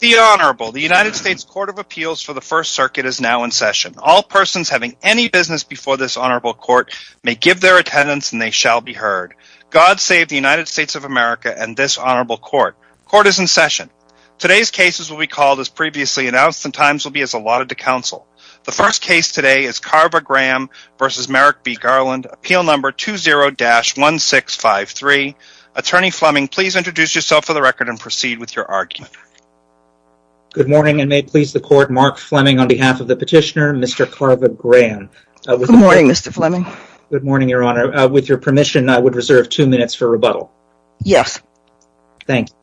The Honorable, the United States Court of Appeals for the First Circuit is now in session. All persons having any business before this Honorable Court may give their attendance and they shall be heard. God save the United States of America and this Honorable Court. Court is in session. Today's cases will be called as previously announced and times will be as allotted to counsel. The first case today is Carver Graham v. Merrick B. Garland, appeal number 20-1653. Attorney Fleming, please introduce yourself for the record and proceed with your argument. Good morning and may it please the Court, Mark Fleming on behalf of the petitioner, Mr. Carver Graham. Good morning, Mr. Fleming. Good morning, Your Honor. With your permission, I would reserve two minutes for rebuttal. Yes. Thank you.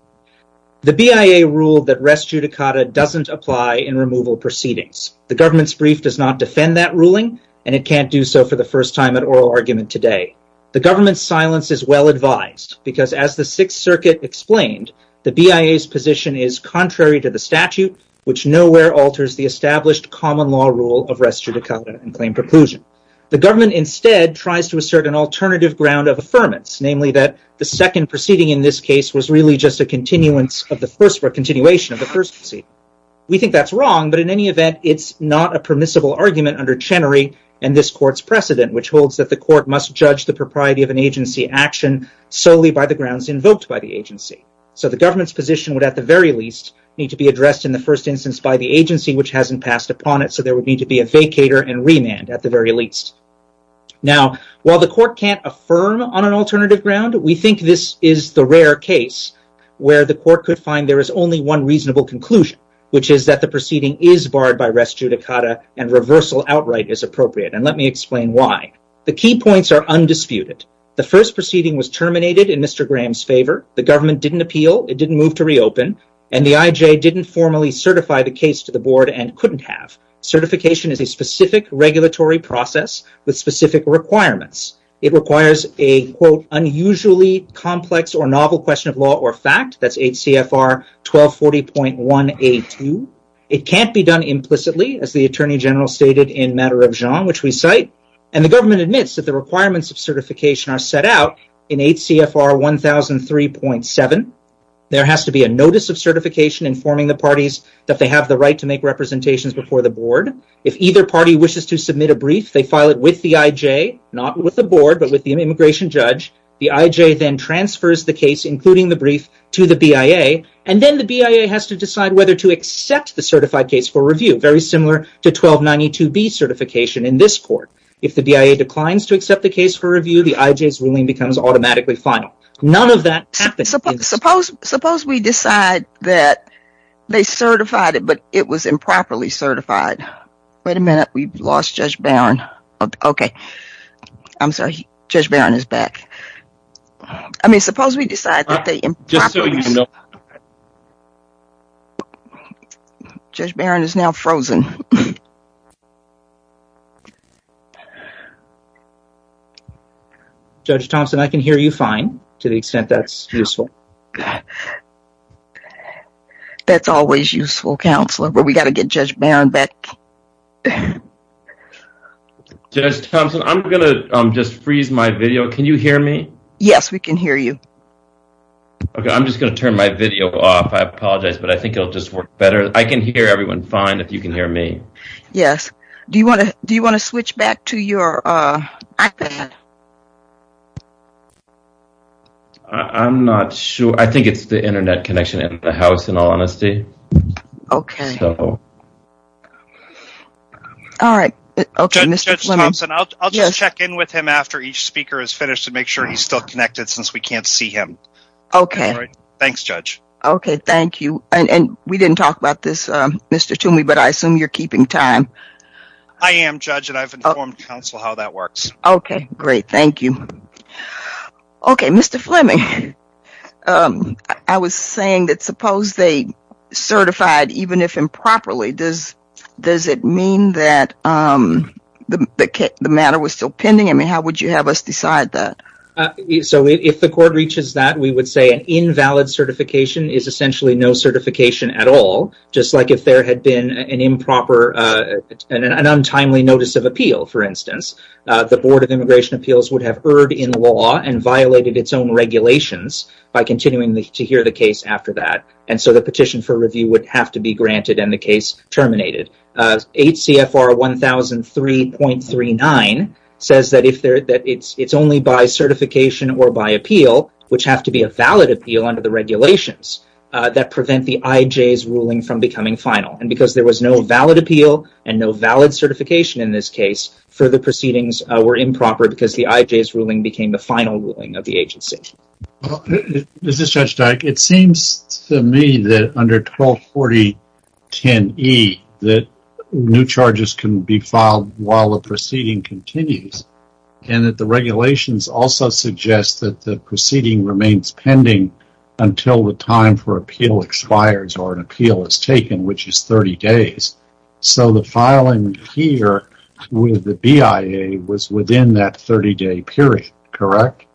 The BIA ruled that res judicata doesn't apply in removal proceedings. The government's brief does not defend that ruling and it can't do so for the first time at oral argument today. The government's silence is well advised because as the Sixth Circuit explained, the BIA's position is contrary to the statute, which nowhere alters the established common law rule of res judicata and claim preclusion. The government instead tries to assert an alternative ground of affirmance, namely that the second proceeding in this case was really just a continuation of the first proceeding. We think that's wrong, but in any event, it's not a permissible argument under Chenery and this Court's precedent, which holds that the Court must judge the propriety of an agency action solely by the grounds invoked by the agency. The government's position would at the very least need to be addressed in the first instance by the agency, which hasn't passed upon it, so there would need to be a vacator and remand at the very least. While the Court can't affirm on an alternative ground, we think this is the rare case where the Court could find there is only one reasonable conclusion, which is that the proceeding is barred by res judicata and reversal outright is appropriate. Let me explain why. The key points are undisputed. The first proceeding was terminated in Mr. Graham's favor. The government didn't appeal. It didn't move to reopen, and the IJ didn't formally certify the case to the board and couldn't have. Certification is a specific regulatory process with specific requirements. It requires an unusually complex or novel question of law or fact. That's 8 CFR 1240.1A2. It can't be done implicitly, as the Attorney General stated in Matter of Jean, which we cite, and the government admits that the requirements of certification are set out in 8 CFR 1003.7. There has to be a notice of certification informing the parties that they have the right to make representations before the board. If either party wishes to submit a brief, they file it with the IJ, not with the board, but with the immigration judge. The IJ then transfers the case, including the brief, to the BIA, and then the BIA has to decide whether to accept the certified case for review, very similar to 1292B certification in this Court. If the BIA declines to accept the case for review, the IJ's ruling becomes automatically final. Judge Thompson, I can hear you fine, to the extent that's useful. That's always useful, Counselor, but we've got to get Judge Barron back. Judge Thompson, I'm going to just freeze my video. Can you hear me? Yes, we can hear you. Okay, I'm just going to turn my video off. I apologize, but I think it'll just work better. I can hear everyone fine, if you can hear me. Yes. Do you want to switch back to your iPad? I'm not sure. I think it's the internet connection in the house, in all honesty. Okay. All right. I'll just check in with him after each speaker is finished to make sure he's still connected, since we can't see him. Okay. Thanks, Judge. Okay, thank you. We didn't talk about this, Mr. Toomey, but I assume you're keeping time. I am, Judge, and I've informed Counsel how that works. Okay, great. Thank you. Okay, Mr. Fleming, I was saying that suppose they certified, even if improperly, does it mean that the matter was still pending? I mean, how would you have us decide that? So, if the court reaches that, we would say an invalid certification is essentially no certification at all, just like if there had been an improper, an untimely notice of appeal, for instance. The Board of Immigration Appeals would have erred in law and violated its own regulations by continuing to hear the case after that, and so the petition for review would have been granted and the case terminated. HCFR 1003.39 says that it's only by certification or by appeal, which have to be a valid appeal under the regulations, that prevent the IJ's ruling from becoming final, and because there was no valid appeal and no valid certification in this case, further proceedings were improper because the IJ's ruling became the final ruling of the agency. Well, this is Judge Dyke. It seems to me that under 1240.10e that new charges can be filed while the proceeding continues, and that the regulations also suggest that the proceeding remains pending until the time for appeal expires or an appeal is taken, which is 30 days. So the filing here with the BIA was within that 30-day period, correct?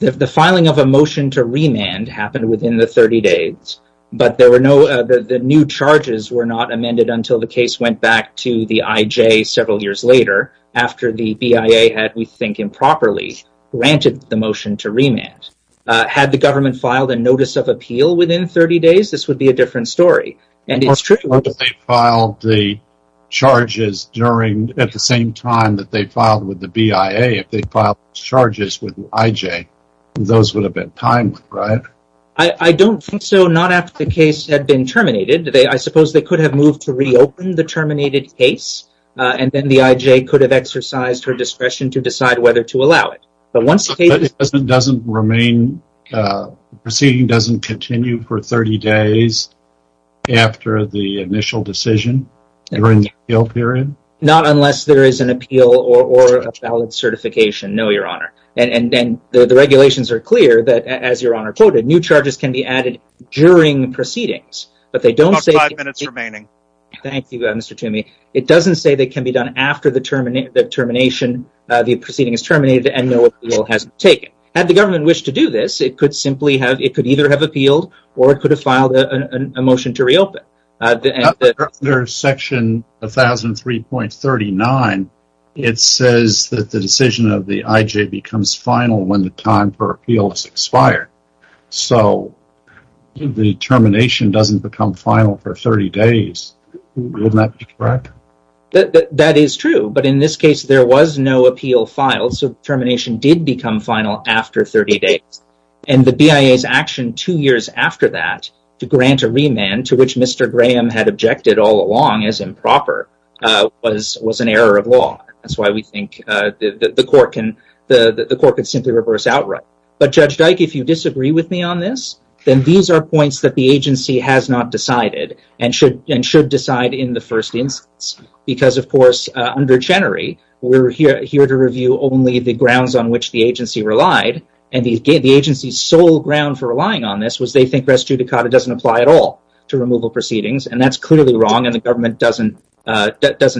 The filing of a motion to remand happened within the 30 days, but the new charges were not amended until the case went back to the IJ several years later, after the BIA had, we think improperly, granted the motion to remand. Had the government filed a notice of appeal within 30 days, this would be a different story, and it's true. Unless they filed the charges during, at the same time that they filed with the BIA, if they filed charges with the IJ, those would have been timed, right? I don't think so, not after the case had been terminated. I suppose they could have moved to reopen the terminated case, and then the IJ could have exercised her discretion to decide whether to allow it, but once the case... It doesn't remain, the proceeding doesn't continue for 30 days after the initial decision during the appeal period? Not unless there is an appeal or a valid certification, no, Your Honor. And the regulations are clear that, as Your Honor quoted, new charges can be added during proceedings, but they don't say... About five minutes remaining. Thank you, Mr. Toomey. It doesn't say they can be done after the termination, the proceeding is terminated, and no appeal has been taken. Had the government wished to do this, it could simply have... It could either have appealed, or it could have filed a motion to reopen. But after Section 1003.39, it says that the decision of the IJ becomes final when the time for appeal has expired, so the termination doesn't become final for 30 days. Wouldn't that be correct? That is true, but in this case, there was no appeal filed, so termination did become final after 30 days. And the BIA's action two years after that to grant a remand, to which Mr. Graham had objected all along as improper, was an error of law. That's why we think the court can simply reverse outright. But Judge Dyke, if you disagree with me on this, then these are points that the of course, under Chenery, we're here to review only the grounds on which the agency relied, and the agency's sole ground for relying on this was they think res judicata doesn't apply at all to removal proceedings, and that's clearly wrong, and the government doesn't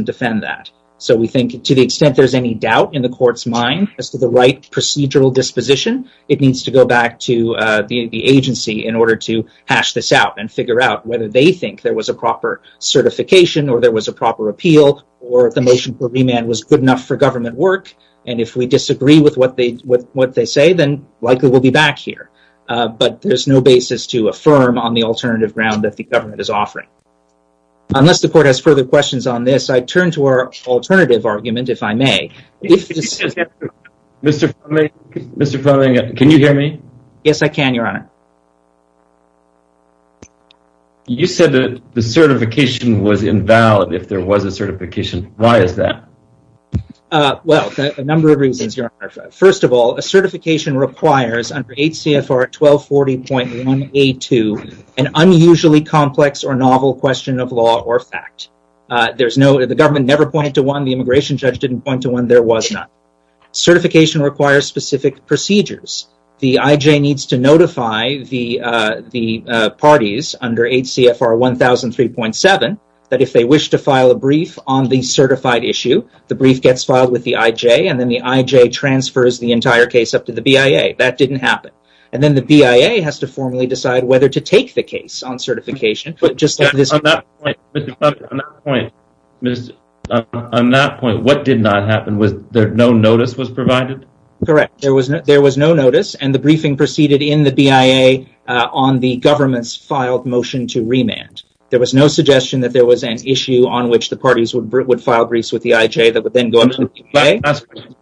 defend that. So we think to the extent there's any doubt in the court's mind as to the right procedural disposition, it needs to go back to the agency in order to hash this out and figure out whether they think there was a proper certification, or there was a proper appeal, or the motion for remand was good enough for government work, and if we disagree with what they say, then likely we'll be back here. But there's no basis to affirm on the alternative ground that the government is offering. Unless the court has further questions on this, I turn to our alternative argument, if I may. Mr. Fleming, can you hear me? Yes, I can, Your Honor. You said that the certification was invalid if there was a certification. Why is that? Well, a number of reasons, Your Honor. First of all, a certification requires under HCFR 1240.1A2 an unusually complex or novel question of law or fact. The government never pointed to one, the immigration judge didn't point to one, there was none. Certification requires specific procedures. The IJ needs to notify the parties under HCFR 1003.7 that if they wish to file a brief on the certified issue, the brief gets filed with the IJ, and then the IJ transfers the entire case up to the BIA. That didn't happen. Then the BIA has to formally decide whether to take the case on certification. On that point, what did not happen? No notice was provided? Correct. There was no notice, and the briefing proceeded in the BIA on the government's filed motion to remand. There was no suggestion that there was an issue on which the parties would file briefs with the IJ that would then go to the BIA.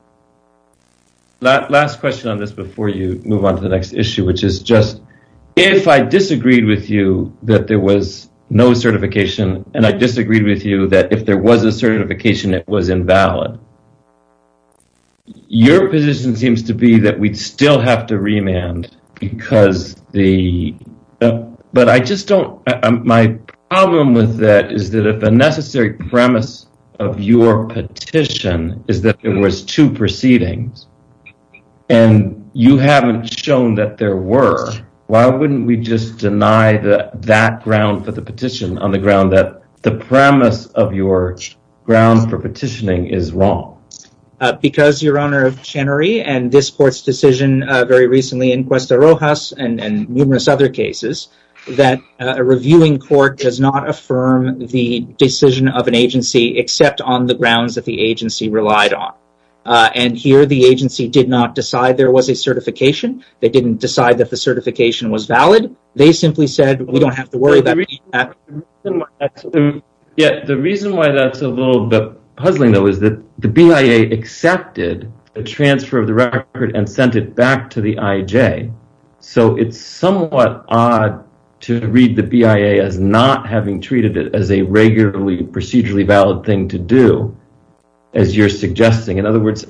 Last question on this before you move on to the next issue, which is just if I disagreed with you that there was no certification, and I disagreed with you that if there was a certification, it was invalid, your position seems to be that we'd still have to remand because the, but I just don't, my problem with that is that if a necessary premise of your petition is that there was two proceedings, and you haven't shown that there were, why wouldn't we just deny that that ground for the petition on the ground that the premise of your ground for petitioning is wrong? Because your honor of Chenery and this court's decision very recently in Cuesta Rojas and numerous other cases that a reviewing court does not affirm the decision of an agency except on the grounds that the agency relied on, and here the agency did not decide there was a certification, they didn't decide that the certification was valid, they simply said we don't have to worry about that. The reason why that's a little bit puzzling though is that the BIA accepted the transfer of the record and sent it back to the IJ, so it's somewhat odd to read the BIA as not having treated it as a regularly procedurally valid thing to do, as you're suggesting. In other words,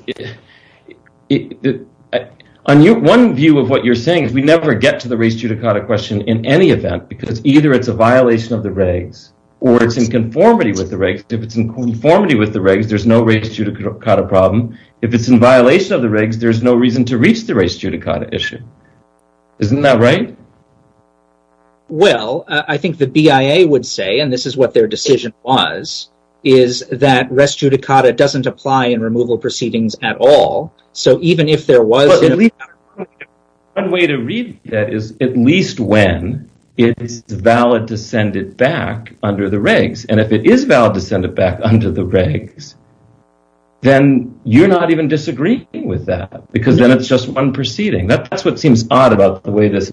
one view of what you're saying is we never get to the race judicata question in any event, because either it's a violation of the regs or it's in conformity with the regs. If it's in conformity with the regs, there's no race judicata problem. If it's in violation of the regs, there's no reason to reach the race judicata issue. Isn't that right? Well, I think the BIA would say, and this is what their decision was, is that rest judicata doesn't apply in removal proceedings at all. So even if there was... One way to read that is at least when it's valid to send it back under the regs, and if it is valid to send it back under the regs, then you're not even disagreeing with that, because then it's just one proceeding. That's what seems odd about the way this...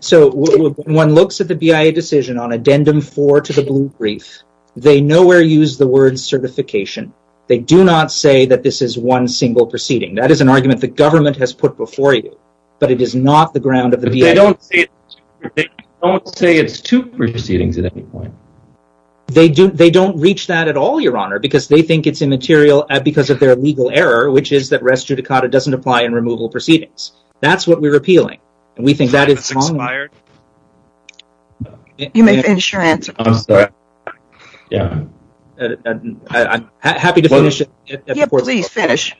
So when one looks at the BIA decision on addendum four to the blue brief, they nowhere use the word certification. They do not say that this is one single proceeding. That is an argument the government has put before you, but it is not the ground of the BIA. They don't say it's two proceedings at any point. They don't reach that at all, Your Honor, because they think it's immaterial because of their legal error, which is that rest judicata doesn't apply in removal proceedings. That's what we're appealing, and we think that is wrong. You may finish your answer. I'm sorry. Yeah. I'm happy to finish. Yeah, please finish.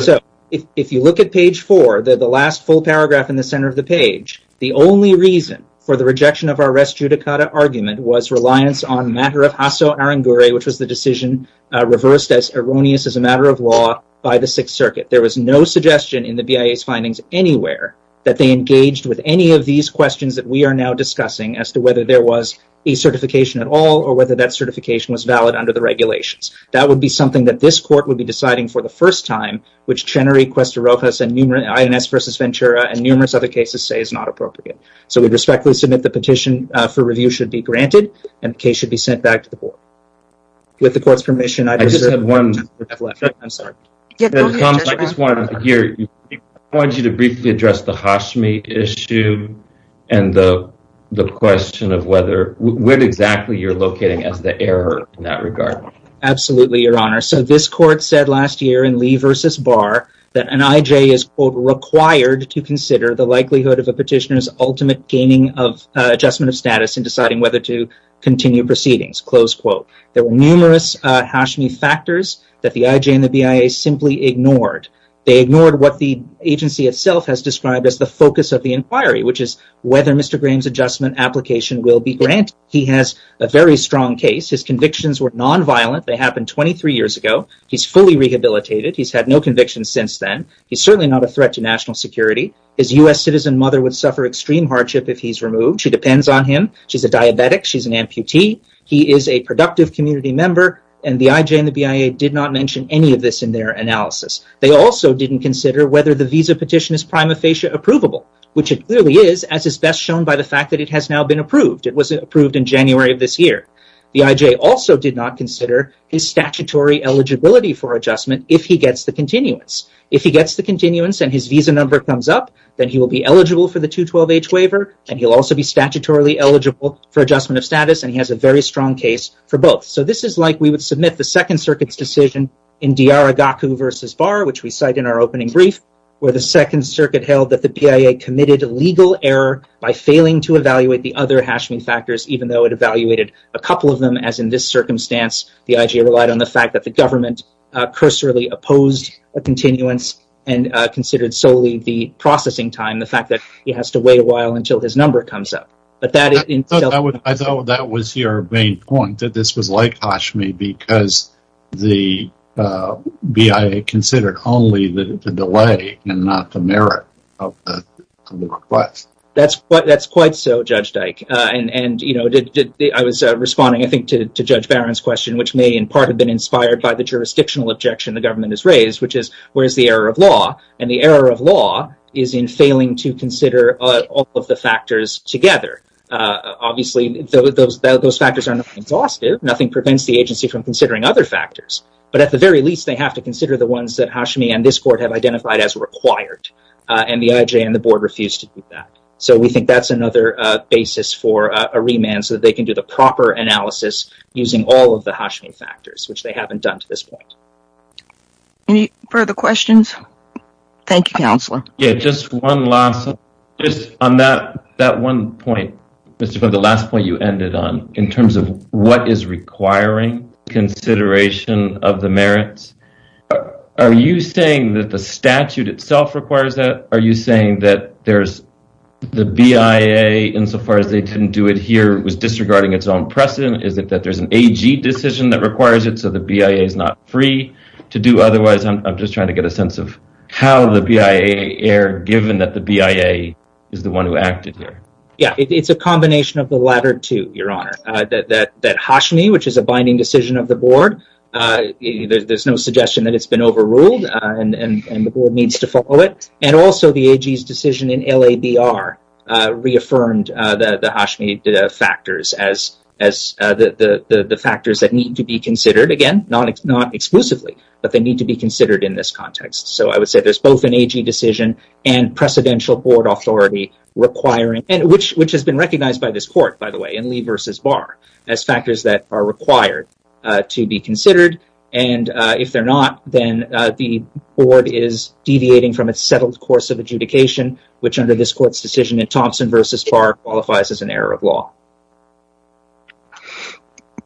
So if you look at page four, the last full paragraph in the center of the page, the only reason for the rejection of our rest judicata argument was reliance on matter of hasso arangure, which was the decision reversed as erroneous as a matter of law by the Sixth Circuit. There was no suggestion in the BIA's findings anywhere that they engaged with any of these questions that we are now discussing as to at all or whether that certification was valid under the regulations. That would be something that this court would be deciding for the first time, which Chenery, Cuesta-Ropas, INS v. Ventura, and numerous other cases say is not appropriate. So we respectfully submit the petition for review should be granted, and the case should be sent back to the board. With the court's permission, I just have one. I'm sorry. I just wanted you to briefly address the Hashmi issue and the question of whether, when exactly you're locating as the error in that regard. Absolutely, Your Honor. So this court said last year in Lee v. Barr that an IJ is required to consider the likelihood of a petitioner's ultimate gaining of adjustment of status in deciding whether to continue proceedings. There were numerous Hashmi factors that the IJ and the BIA simply ignored. They ignored what the agency itself has described as the focus of the inquiry, which is whether Mr. Graham's adjustment application will be granted. He has a very strong case. His convictions were nonviolent. They happened 23 years ago. He's fully rehabilitated. He's had no convictions since then. He's certainly not a threat to national security. His U.S. citizen mother would suffer extreme hardship if he's removed. She depends on him. She's a diabetic. She's an amputee. He is a productive community member, and the IJ and the BIA did not mention any of this in their analysis. They also didn't consider whether the visa petition is prima facie approvable, which it clearly is as is best shown by the fact that it has now been approved. It was approved in January of this year. The IJ also did not consider his statutory eligibility for adjustment if he gets the continuance. If he gets the continuance and his visa number comes up, then he will be eligible for the 212H waiver, and he'll also be statutorily eligible for adjustment of status, and he has a very strong case for both. So this is like we would submit the Second Circuit's decision in Diarragao versus Barr, which we cite in our opening brief, where the Second Circuit held that the BIA committed a legal error by failing to evaluate the other Hashmi factors, even though it evaluated a couple of them, as in this circumstance, the IJ relied on the fact that the government cursorily opposed a continuance and considered solely the processing time, the fact that he has to wait a while until his number comes up. But I thought that was your main point, that this was like Hashmi because the BIA considered only the delay and not the merit of the request. That's quite so, Judge Dyke, and I was responding, I think, to Judge Barron's question, which may in part have been inspired by the jurisdictional objection the government has raised, which is, where's the error of law? And the error of law is in failing to consider all of the factors together. Obviously, those factors are not exhaustive, nothing prevents the agency from considering other factors, but at the very least, they have to consider the ones that Hashmi and this Court have identified as required, and the IJ and the Board refuse to do that. So we think that's another basis for a remand, so that they can do the proper analysis using all of the Hashmi factors, which they haven't done to this point. Any further questions? Thank you, Councillor. Just one last, on that one point, the last point you ended on, in terms of what is requiring consideration of the merits, are you saying that the statute itself requires that? Are you saying that there's the BIA, insofar as they didn't do it here, was disregarding its own precedent? Is it that there's an AG decision that requires it so the BIA is not free to do otherwise? I'm just wondering, given that the BIA is the one who acted here. Yeah, it's a combination of the latter two, Your Honour. That Hashmi, which is a binding decision of the Board, there's no suggestion that it's been overruled and the Board needs to follow it, and also the AG's decision in LABR reaffirmed the Hashmi factors as the factors that need to be considered, again, not exclusively, but they need to be considered in this context. So I would say there's both an AG decision and precedential Board authority requiring, which has been recognized by this Court, by the way, in Lee v. Barr, as factors that are required to be considered, and if they're not, then the Board is deviating from its settled course of adjudication, which under this Court's decision in Thompson v. Barr qualifies as an error of law.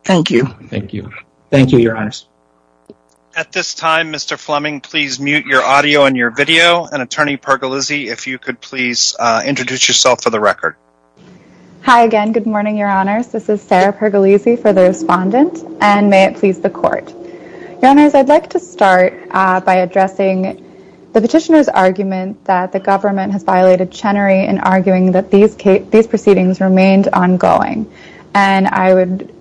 Thank you. Thank you. Thank you, Your Honours. At this time, Mr. Fleming, please mute your audio and your video, and Attorney Pergolizzi, if you could please introduce yourself for the record. Hi again. Good morning, Your Honours. This is Sarah Pergolizzi for the Respondent, and may it please the Court. Your Honours, I'd like to start by addressing the Petitioner's argument that the Government has violated Chenery in arguing that these proceedings remained ongoing, and I would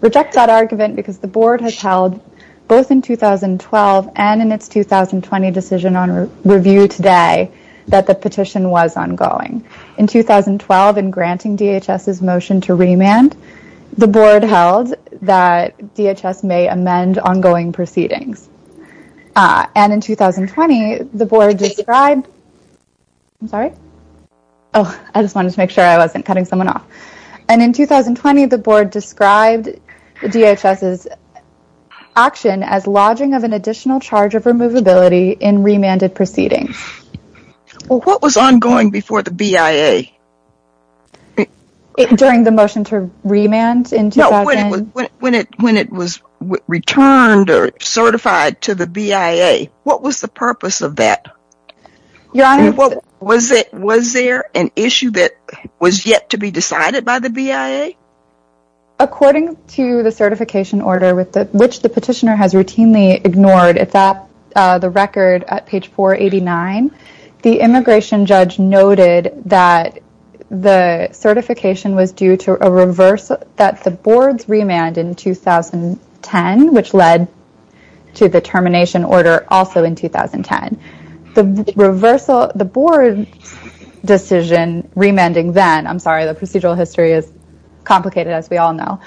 reject that argument because the Board has held, both in 2012 and in its 2020 decision on review today, that the petition was ongoing. In 2012, in granting DHS's motion to remand, the Board held that DHS may amend ongoing proceedings, and in 2020, the Board described I'm sorry. Oh, I just wanted to make sure I wasn't cutting someone off, and in 2020, the Board described DHS's action as lodging of an additional charge of removability in remanded proceedings. Well, what was ongoing before the BIA? During the motion to remand? No, when it was returned or certified to the BIA, what was the purpose of that? Your Honours? Was there an issue that was yet to be decided by the BIA? According to the certification order, which the Petitioner has routinely ignored, the record at page 489, the immigration judge noted that the certification was due to a reverse, that the Board's remand in 2010, which led to the termination order also in 2010, the reversal, the Board's decision remanding then, I'm sorry, the procedural history is complicated, as we all know,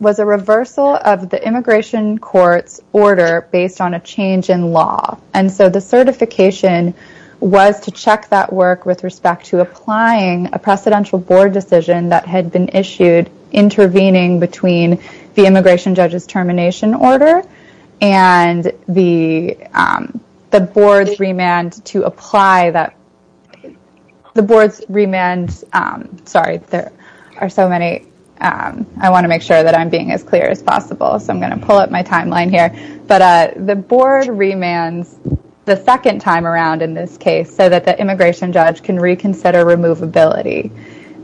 was a reversal of the immigration court's order based on a change in law, and so the certification was to check that work with respect to applying a precedential Board decision that had been issued intervening between the immigration judge's termination order and the Board's remand to apply that, the Board's remand, sorry, there are so many, I want to make sure that I'm being as clear as possible, so I'm going to pull up my timeline here, but the Board remands the second time around in this case so that the immigration judge can reconsider removability.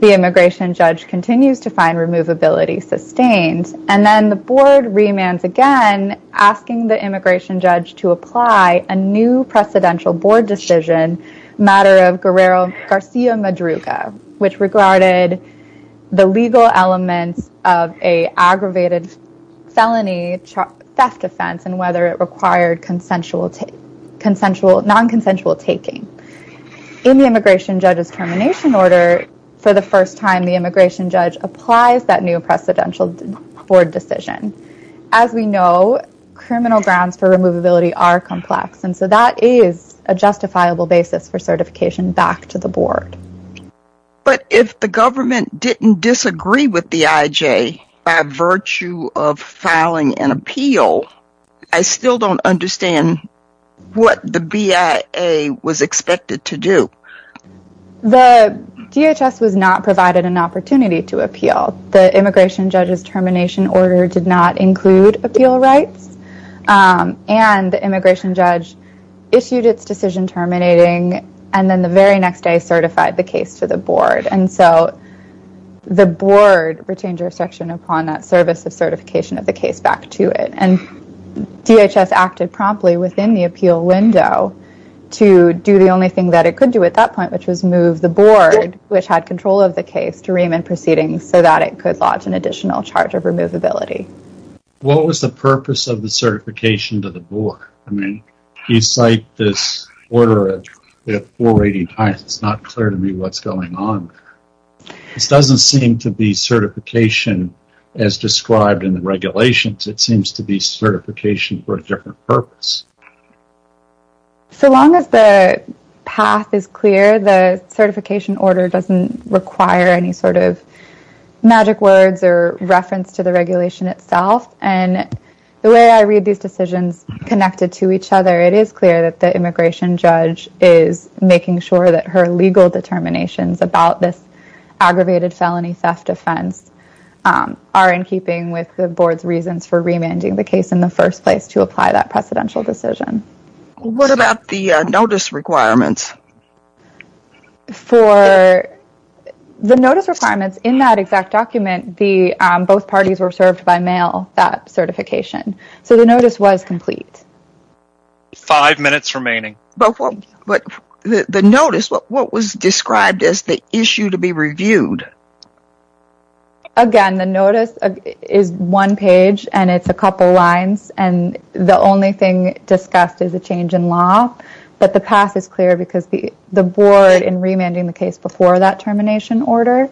The immigration judge continues to find removability sustained, and then the Board remands again, asking the immigration judge to apply a new precedential Board decision, matter of Guerrero Garcia Madruga, which regarded the legal elements of an aggravated felony theft offense and whether it required consensual, non-consensual taking. In the immigration judge's termination order, for the first time, the immigration judge applies that new precedential Board decision. As we know, criminal grounds for removability are complex, and so that is a justifiable basis for certification back to the Board. But if the government didn't disagree with the IJ by virtue of filing an appeal, I still don't understand what the BIA was expected to do. The DHS was not provided an opportunity to appeal. The immigration judge's termination order did not include appeal rights, and the immigration judge issued its decision terminating, and then the very next day certified the case to the Board, and so the Board retained upon that service of certification of the case back to it, and DHS acted promptly within the appeal window to do the only thing that it could do at that point, which was move the Board, which had control of the case, to ream in proceedings so that it could lodge an additional charge of removability. What was the purpose of the certification to the Board? I mean, you cite this order at 480 times. It's not clear to me what's going on. This doesn't seem to be certification as described in the regulations. It seems to be certification for a different purpose. So long as the path is clear, the certification order doesn't require any sort of magic words or reference to the regulation itself, and the way I read these decisions connected to each other, it is clear that the immigration judge is making sure that her legal determinations about this aggravated felony theft offense are in keeping with the Board's reasons for remanding the case in the first place to apply that precedential decision. What about the notice requirements? For the notice requirements, in that exact document, both parties were served by mail that certification, so the notice was complete. Five minutes remaining. The notice, what was described as the issue to be reviewed? Again, the notice is one page, and it's a couple lines, and the only thing discussed is a change in law, but the path is clear because the Board, in remanding the case before that termination order,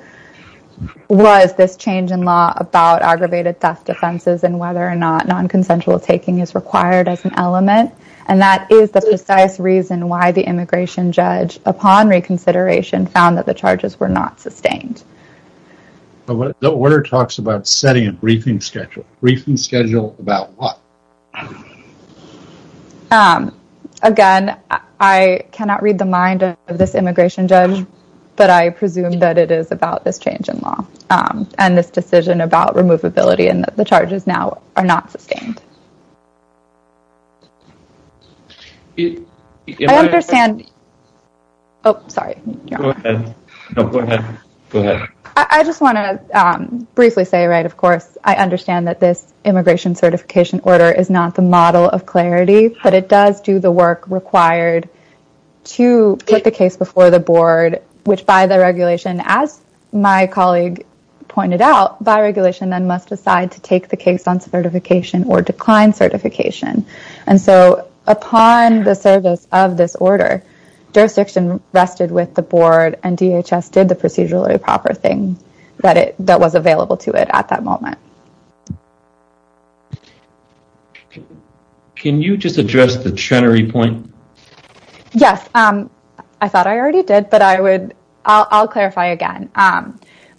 was this change in law about aggravated theft offenses and whether or not non-consensual taking is required as an element, and that is the precise reason why the immigration judge, upon reconsideration, found that the charges were not sustained. The order talks about setting a briefing schedule. Briefing schedule about what? Again, I cannot read the mind of this immigration judge, but I presume that it is about this change in law and this decision about removability and that the charges now are not sustained. I understand... Oh, sorry. Go ahead. No, go ahead. Go ahead. I just want to briefly say, of course, I understand that this immigration certification order is not the model of clarity, but it does do the work required to put the case before the Board, which by the regulation, as my colleague pointed out, by regulation then must decide to take the case on certification or decline certification, and so upon the service of this order, jurisdiction rested with the Board and DHS did the procedurally proper thing that was available to it at that moment. Can you just address the Chenery point? Yes. I thought I already did, but I'll clarify again.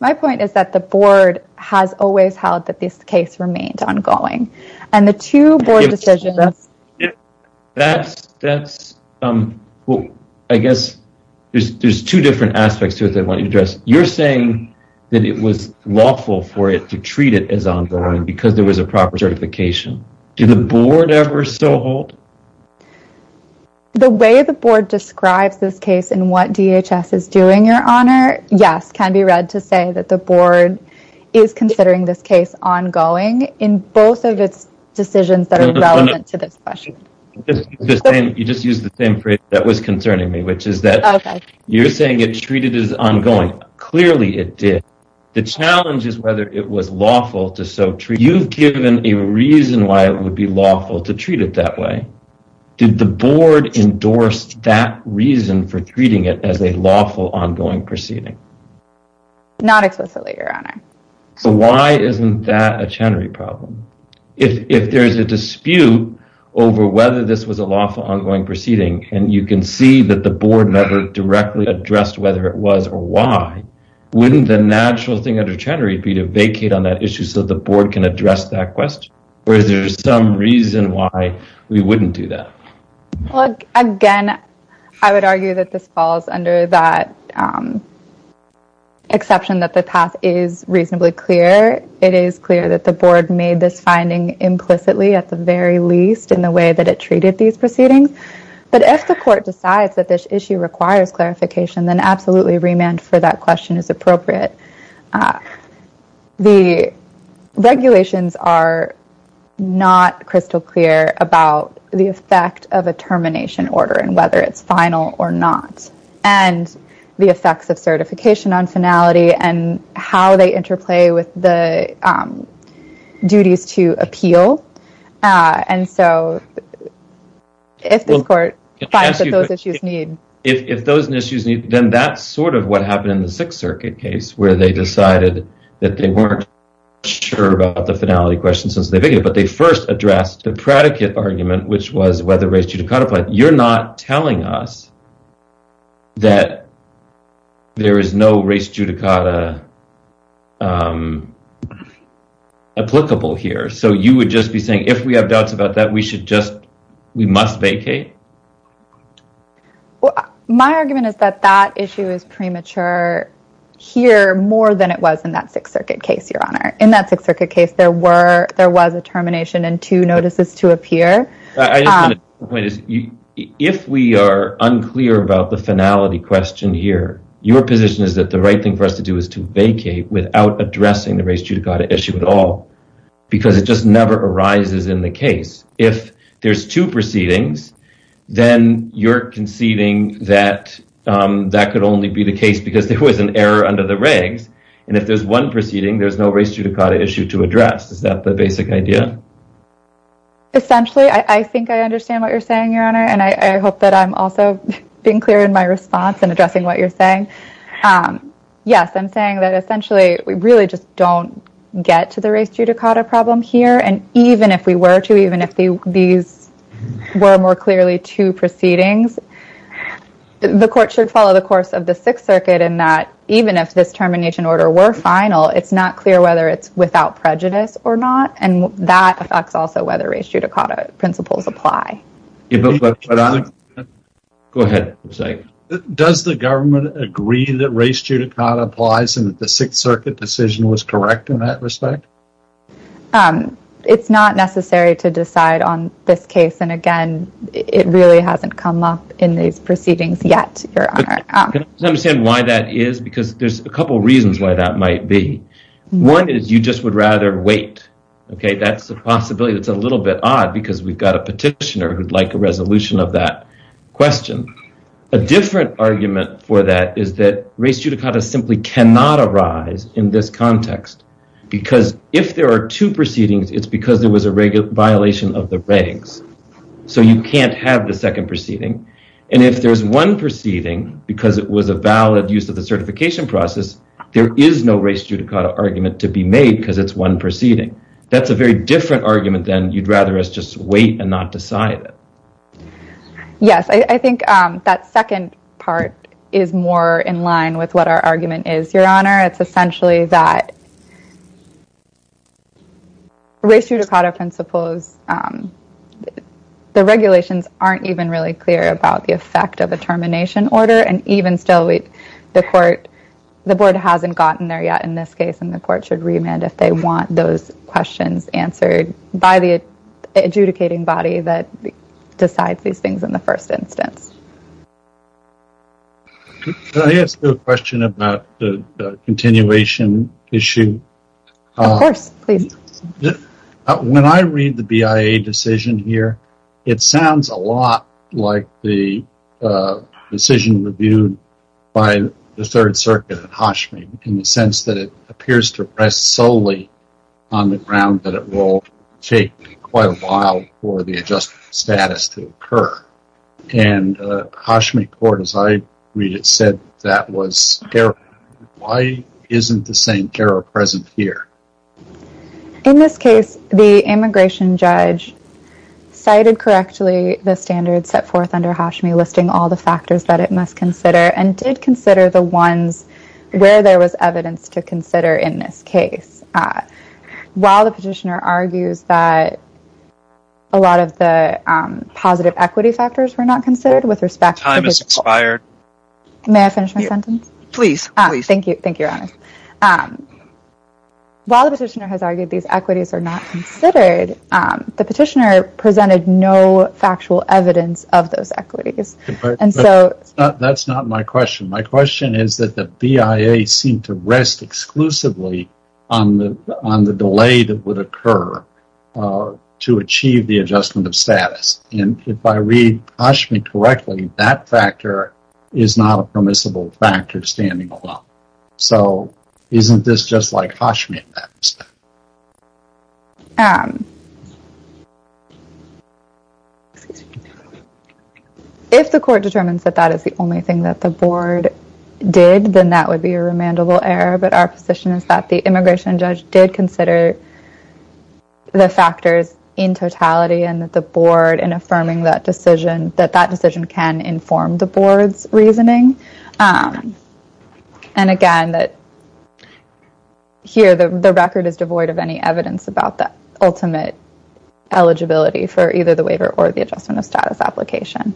My point is that the Board has always held that this case remained ongoing, and the two different aspects to it that I want you to address, you're saying that it was lawful for it to treat it as ongoing because there was a proper certification. Do the Board ever still hold? The way the Board describes this case and what DHS is doing, Your Honor, yes, can be read to say that the Board is considering this case ongoing in both of its decisions that are relevant to this question. You just used the same phrase that was concerning me, which is that you're saying it treated as ongoing. Clearly it did. The challenge is whether it was lawful to so treat. You've given a reason why it would be lawful to treat it that way. Did the Board endorse that reason for treating it as a lawful ongoing proceeding? Not explicitly, Your Honor. So why isn't that a Chenery problem? If there's a dispute over whether this was a lawful ongoing proceeding, and you can see that the Board never directly addressed whether it was or why, wouldn't the natural thing under Chenery be to vacate on that issue so the Board can address that question? Or is there some reason why we wouldn't do that? Again, I would argue that this falls under that exception that the path is reasonably clear. It is clear that the Board made this finding implicitly, at the very least, in the way that it treated these proceedings. But if the Court decides that this issue requires clarification, then absolutely, remand for that question is appropriate. The regulations are not crystal clear about the effect of a termination order and whether it's final or not, and the effects of certification on if this Court finds that those issues need. If those issues need, then that's sort of what happened in the Sixth Circuit case, where they decided that they weren't sure about the finality question since the beginning, but they first addressed the predicate argument, which was whether race judicata applied. You're not telling us that there is no race judicata applicable here. So you would just be saying, if we have doubts about that, we should just vacate? My argument is that that issue is premature here more than it was in that Sixth Circuit case, Your Honor. In that Sixth Circuit case, there was a termination and two notices to appear. If we are unclear about the finality question here, your position is that the right thing for us to do is to vacate without addressing the race judicata issue at all, because it just never arises in the case. If there's two proceedings, then you're conceding that that could only be the case because there was an error under the regs, and if there's one proceeding, there's no race judicata issue to address. Is that the basic idea? Essentially, I think I understand what you're saying, Your Honor, and I hope that I'm also being clear in my response and addressing what you're saying. Yes, I'm saying that, really, just don't get to the race judicata problem here, and even if we were to, even if these were more clearly two proceedings, the court should follow the course of the Sixth Circuit in that, even if this termination order were final, it's not clear whether it's without prejudice or not, and that affects also whether race judicata principles apply. Go ahead. Does the government agree that race judicata applies and that the Sixth Circuit decision was correct in that respect? It's not necessary to decide on this case, and again, it really hasn't come up in these proceedings yet, Your Honor. Can I understand why that is? Because there's a couple of reasons why that might be. One is you just would rather wait, okay? That's a possibility that's a little bit odd, because we've got a petitioner who'd like a resolution of that question. A different argument for that is that race judicata simply cannot arise in this context, because if there are two proceedings, it's because there was a violation of the regs, so you can't have the second proceeding, and if there's one proceeding, because it was a valid use of the certification process, there is no race judicata argument to be made because it's one proceeding. That's a very different argument than you'd rather us just wait and not decide it. Yes, I think that second part is more in line with what our argument is, Your Honor. It's essentially that race judicata principles, the regulations aren't even really clear about the effect of a termination order, and even still, the court, the board hasn't gotten there yet in this case, and the court should remand if they want those questions answered by the adjudicating body that is. Can I ask you a question about the continuation issue? Of course, please. When I read the BIA decision here, it sounds a lot like the decision reviewed by the Third Circuit at Hashim, in the sense that it appears to rest solely on the ground that it will take quite a while for the adjustment status to occur, and Hashim court, as I read it, said that was error. Why isn't the same error present here? In this case, the immigration judge cited correctly the standards set forth under Hashim, listing all the factors that it must consider, and did consider the ones where there was evidence to consider in this case. While the petitioner argues that a lot of the positive equity factors were not considered, with respect to... Time has expired. May I finish my sentence? Please, please. Thank you, Your Honor. While the petitioner has argued these equities are not considered, the petitioner presented no factual evidence of those equities, and so... That's not my question. My question is that the BIA seemed to rest exclusively on the delay that would occur to achieve the adjustment of status, and if I read Hashim correctly, that factor is not a permissible factor standing alone. So, isn't this just like Hashim in that respect? Excuse me. If the court determines that that is the only thing that the board did, then that would be a remandable error, but our position is that the immigration judge did consider the factors in totality, and that the board, in affirming that decision, that that decision can inform the board's reasoning. And again, that here, the record is void of any evidence about that ultimate eligibility for either the waiver or the adjustment of status application.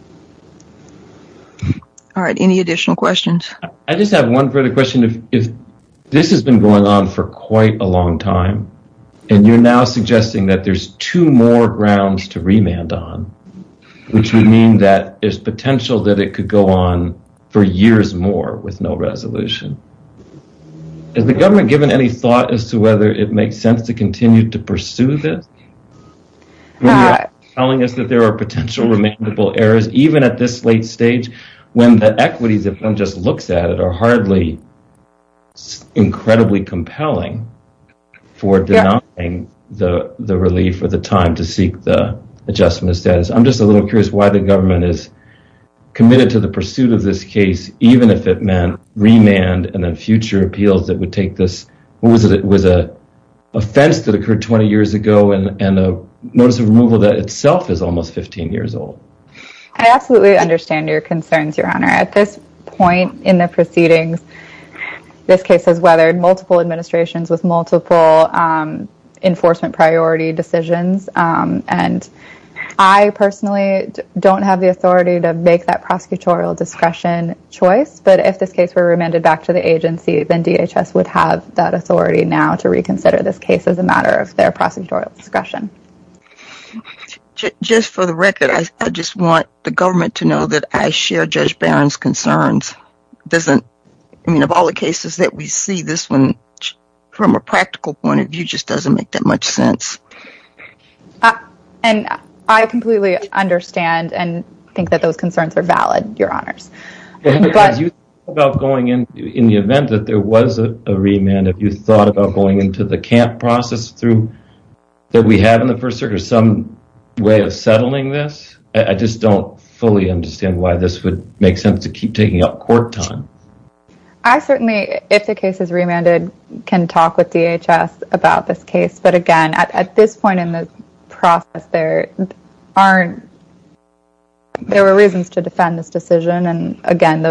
All right. Any additional questions? I just have one further question. This has been going on for quite a long time, and you're now suggesting that there's two more grounds to remand on, which would mean that there's potential that it could go on for years more with no resolution. Has the government given any thought as to whether it makes sense to continue to pursue this? Are you telling us that there are potential remandable errors, even at this late stage, when the equities, if one just looks at it, are hardly incredibly compelling for denouncing the relief or the time to seek the adjustment of status? I'm just a little curious why the government is committed to the pursuit of this case, even if it meant remand and then future appeals that would take this, what was it, it was a offense that occurred 20 years ago and a notice of removal that itself is almost 15 years old. I absolutely understand your concerns, Your Honor. At this point in the proceedings, this case has weathered multiple administrations with multiple enforcement priority decisions, and I personally don't have the authority to make that prosecutorial discretion choice, but if this case were remanded back to the agency, then DHS would have that authority now to reconsider this case as a matter of their prosecutorial discretion. Just for the record, I just want the government to know that I share Judge Barron's concerns. It doesn't, I mean, of all the cases that we see, this one, from a practical point of view, just doesn't make that much sense. And I completely understand and think that those concerns are valid, Your Honors. Have you thought about going in, in the event that there was a remand, have you thought about going into the camp process through, that we have in the first circuit, some way of settling this? I just don't fully understand why this would make sense to keep taking up court time. I certainly, if the case is remanded, can talk with DHS about this case, but again, at this point in the process, there aren't, there were reasons to defend this decision, and again,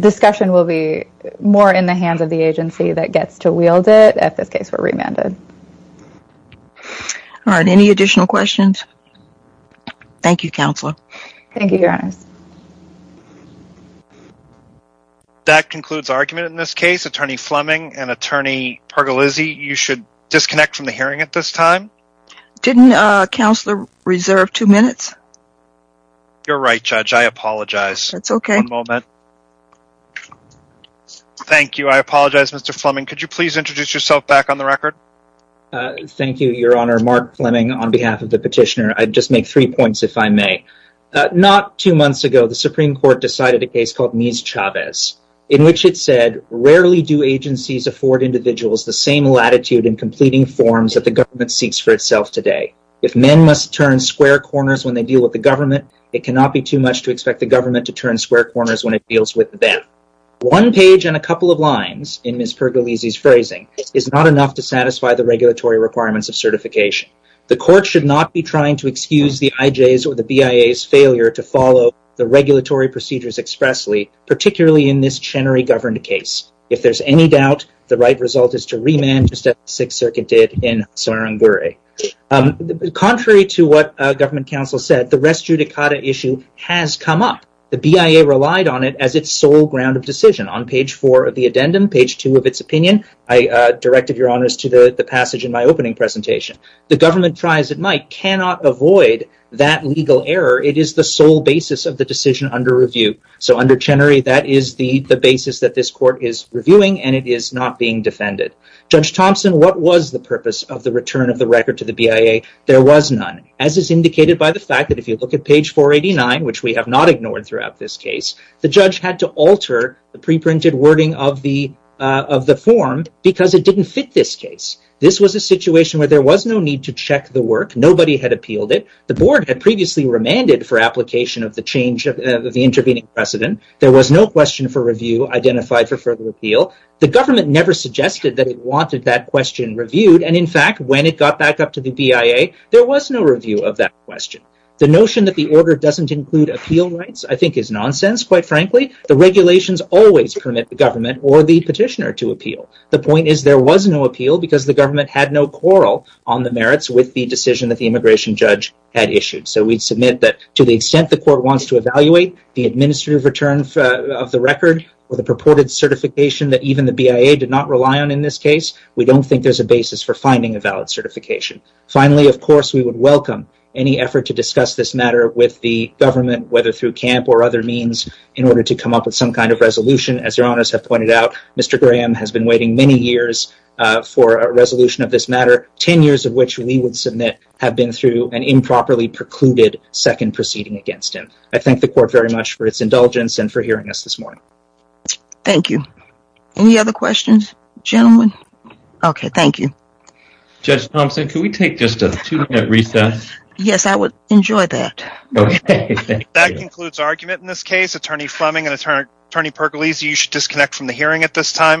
discussion will be more in the hands of the agency that gets to wield it, if this case were remanded. All right, any additional questions? Thank you, Counselor. Thank you, Your Honors. That concludes argument in this case. Attorney Fleming and Attorney Pargolizzi, you should disconnect from the hearing at this time. Didn't Counselor reserve two minutes? You're right, Judge, I apologize. That's okay. One moment. Thank you, I apologize, Mr. Fleming. Could you please introduce yourself back on the record? Thank you, Your Honor. Mark Fleming on behalf of the petitioner. I'd just make three points, if I may. Not two months ago, the Supreme Court decided a case called Mies-Chavez, in which it said, rarely do agencies afford individuals the same latitude in completing forms that the government seeks for itself today. If men must turn square corners when they deal with the government, it cannot be too much to expect the government to turn square corners when it deals with them. One page and a couple of lines in Ms. Pargolizzi's phrasing is not enough to satisfy the regulatory requirements of certification. The court should not be trying to excuse the IJs or the BIAs failure to follow the regulatory procedures expressly, particularly in this Chenery-governed case. If there's any doubt, the right result is to remand, just as the Sixth Circuit did in Tsvangiri. Contrary to what government counsel said, the res judicata issue has come up. The BIA relied on it as its sole ground of decision. On page four of the addendum, page two of its opinion, I directed Your Honors to the passage in my opening presentation. The government, try as it might, cannot avoid that legal error. It is the sole basis of the decision under review. Under Chenery, that is the basis that this court is reviewing and it is not being defended. Judge Thompson, what was the purpose of the return of the record to the BIA? There was none, as is indicated by the fact that if you look at page 489, which we have not ignored throughout this case, the judge had to alter the pre-printed wording of the form because it didn't fit this case. This was a situation where there was no check the work. Nobody had appealed it. The board had previously remanded for application of the change of the intervening precedent. There was no question for review identified for further appeal. The government never suggested that it wanted that question reviewed. In fact, when it got back up to the BIA, there was no review of that question. The notion that the order doesn't include appeal rights I think is nonsense, quite frankly. The regulations always permit the government or the petitioner to appeal. The point is there was no appeal because the decision that the immigration judge had issued. We submit that to the extent the court wants to evaluate the administrative return of the record or the purported certification that even the BIA did not rely on in this case, we don't think there's a basis for finding a valid certification. Finally, of course, we would welcome any effort to discuss this matter with the government, whether through CAMP or other means, in order to come up with some kind of resolution. As your honors have pointed out, Mr. Graham has been waiting many years for a resolution of this matter, 10 years of which we would submit have been through an improperly precluded second proceeding against him. I thank the court very much for its indulgence and for hearing us this morning. Thank you. Any other questions, gentlemen? Okay, thank you. Judge Thompson, could we take just a two-minute recess? Yes, I would enjoy that. That concludes argument in this case. Attorney Fleming and Attorney Percolese, you should disconnect from the hearing at this time.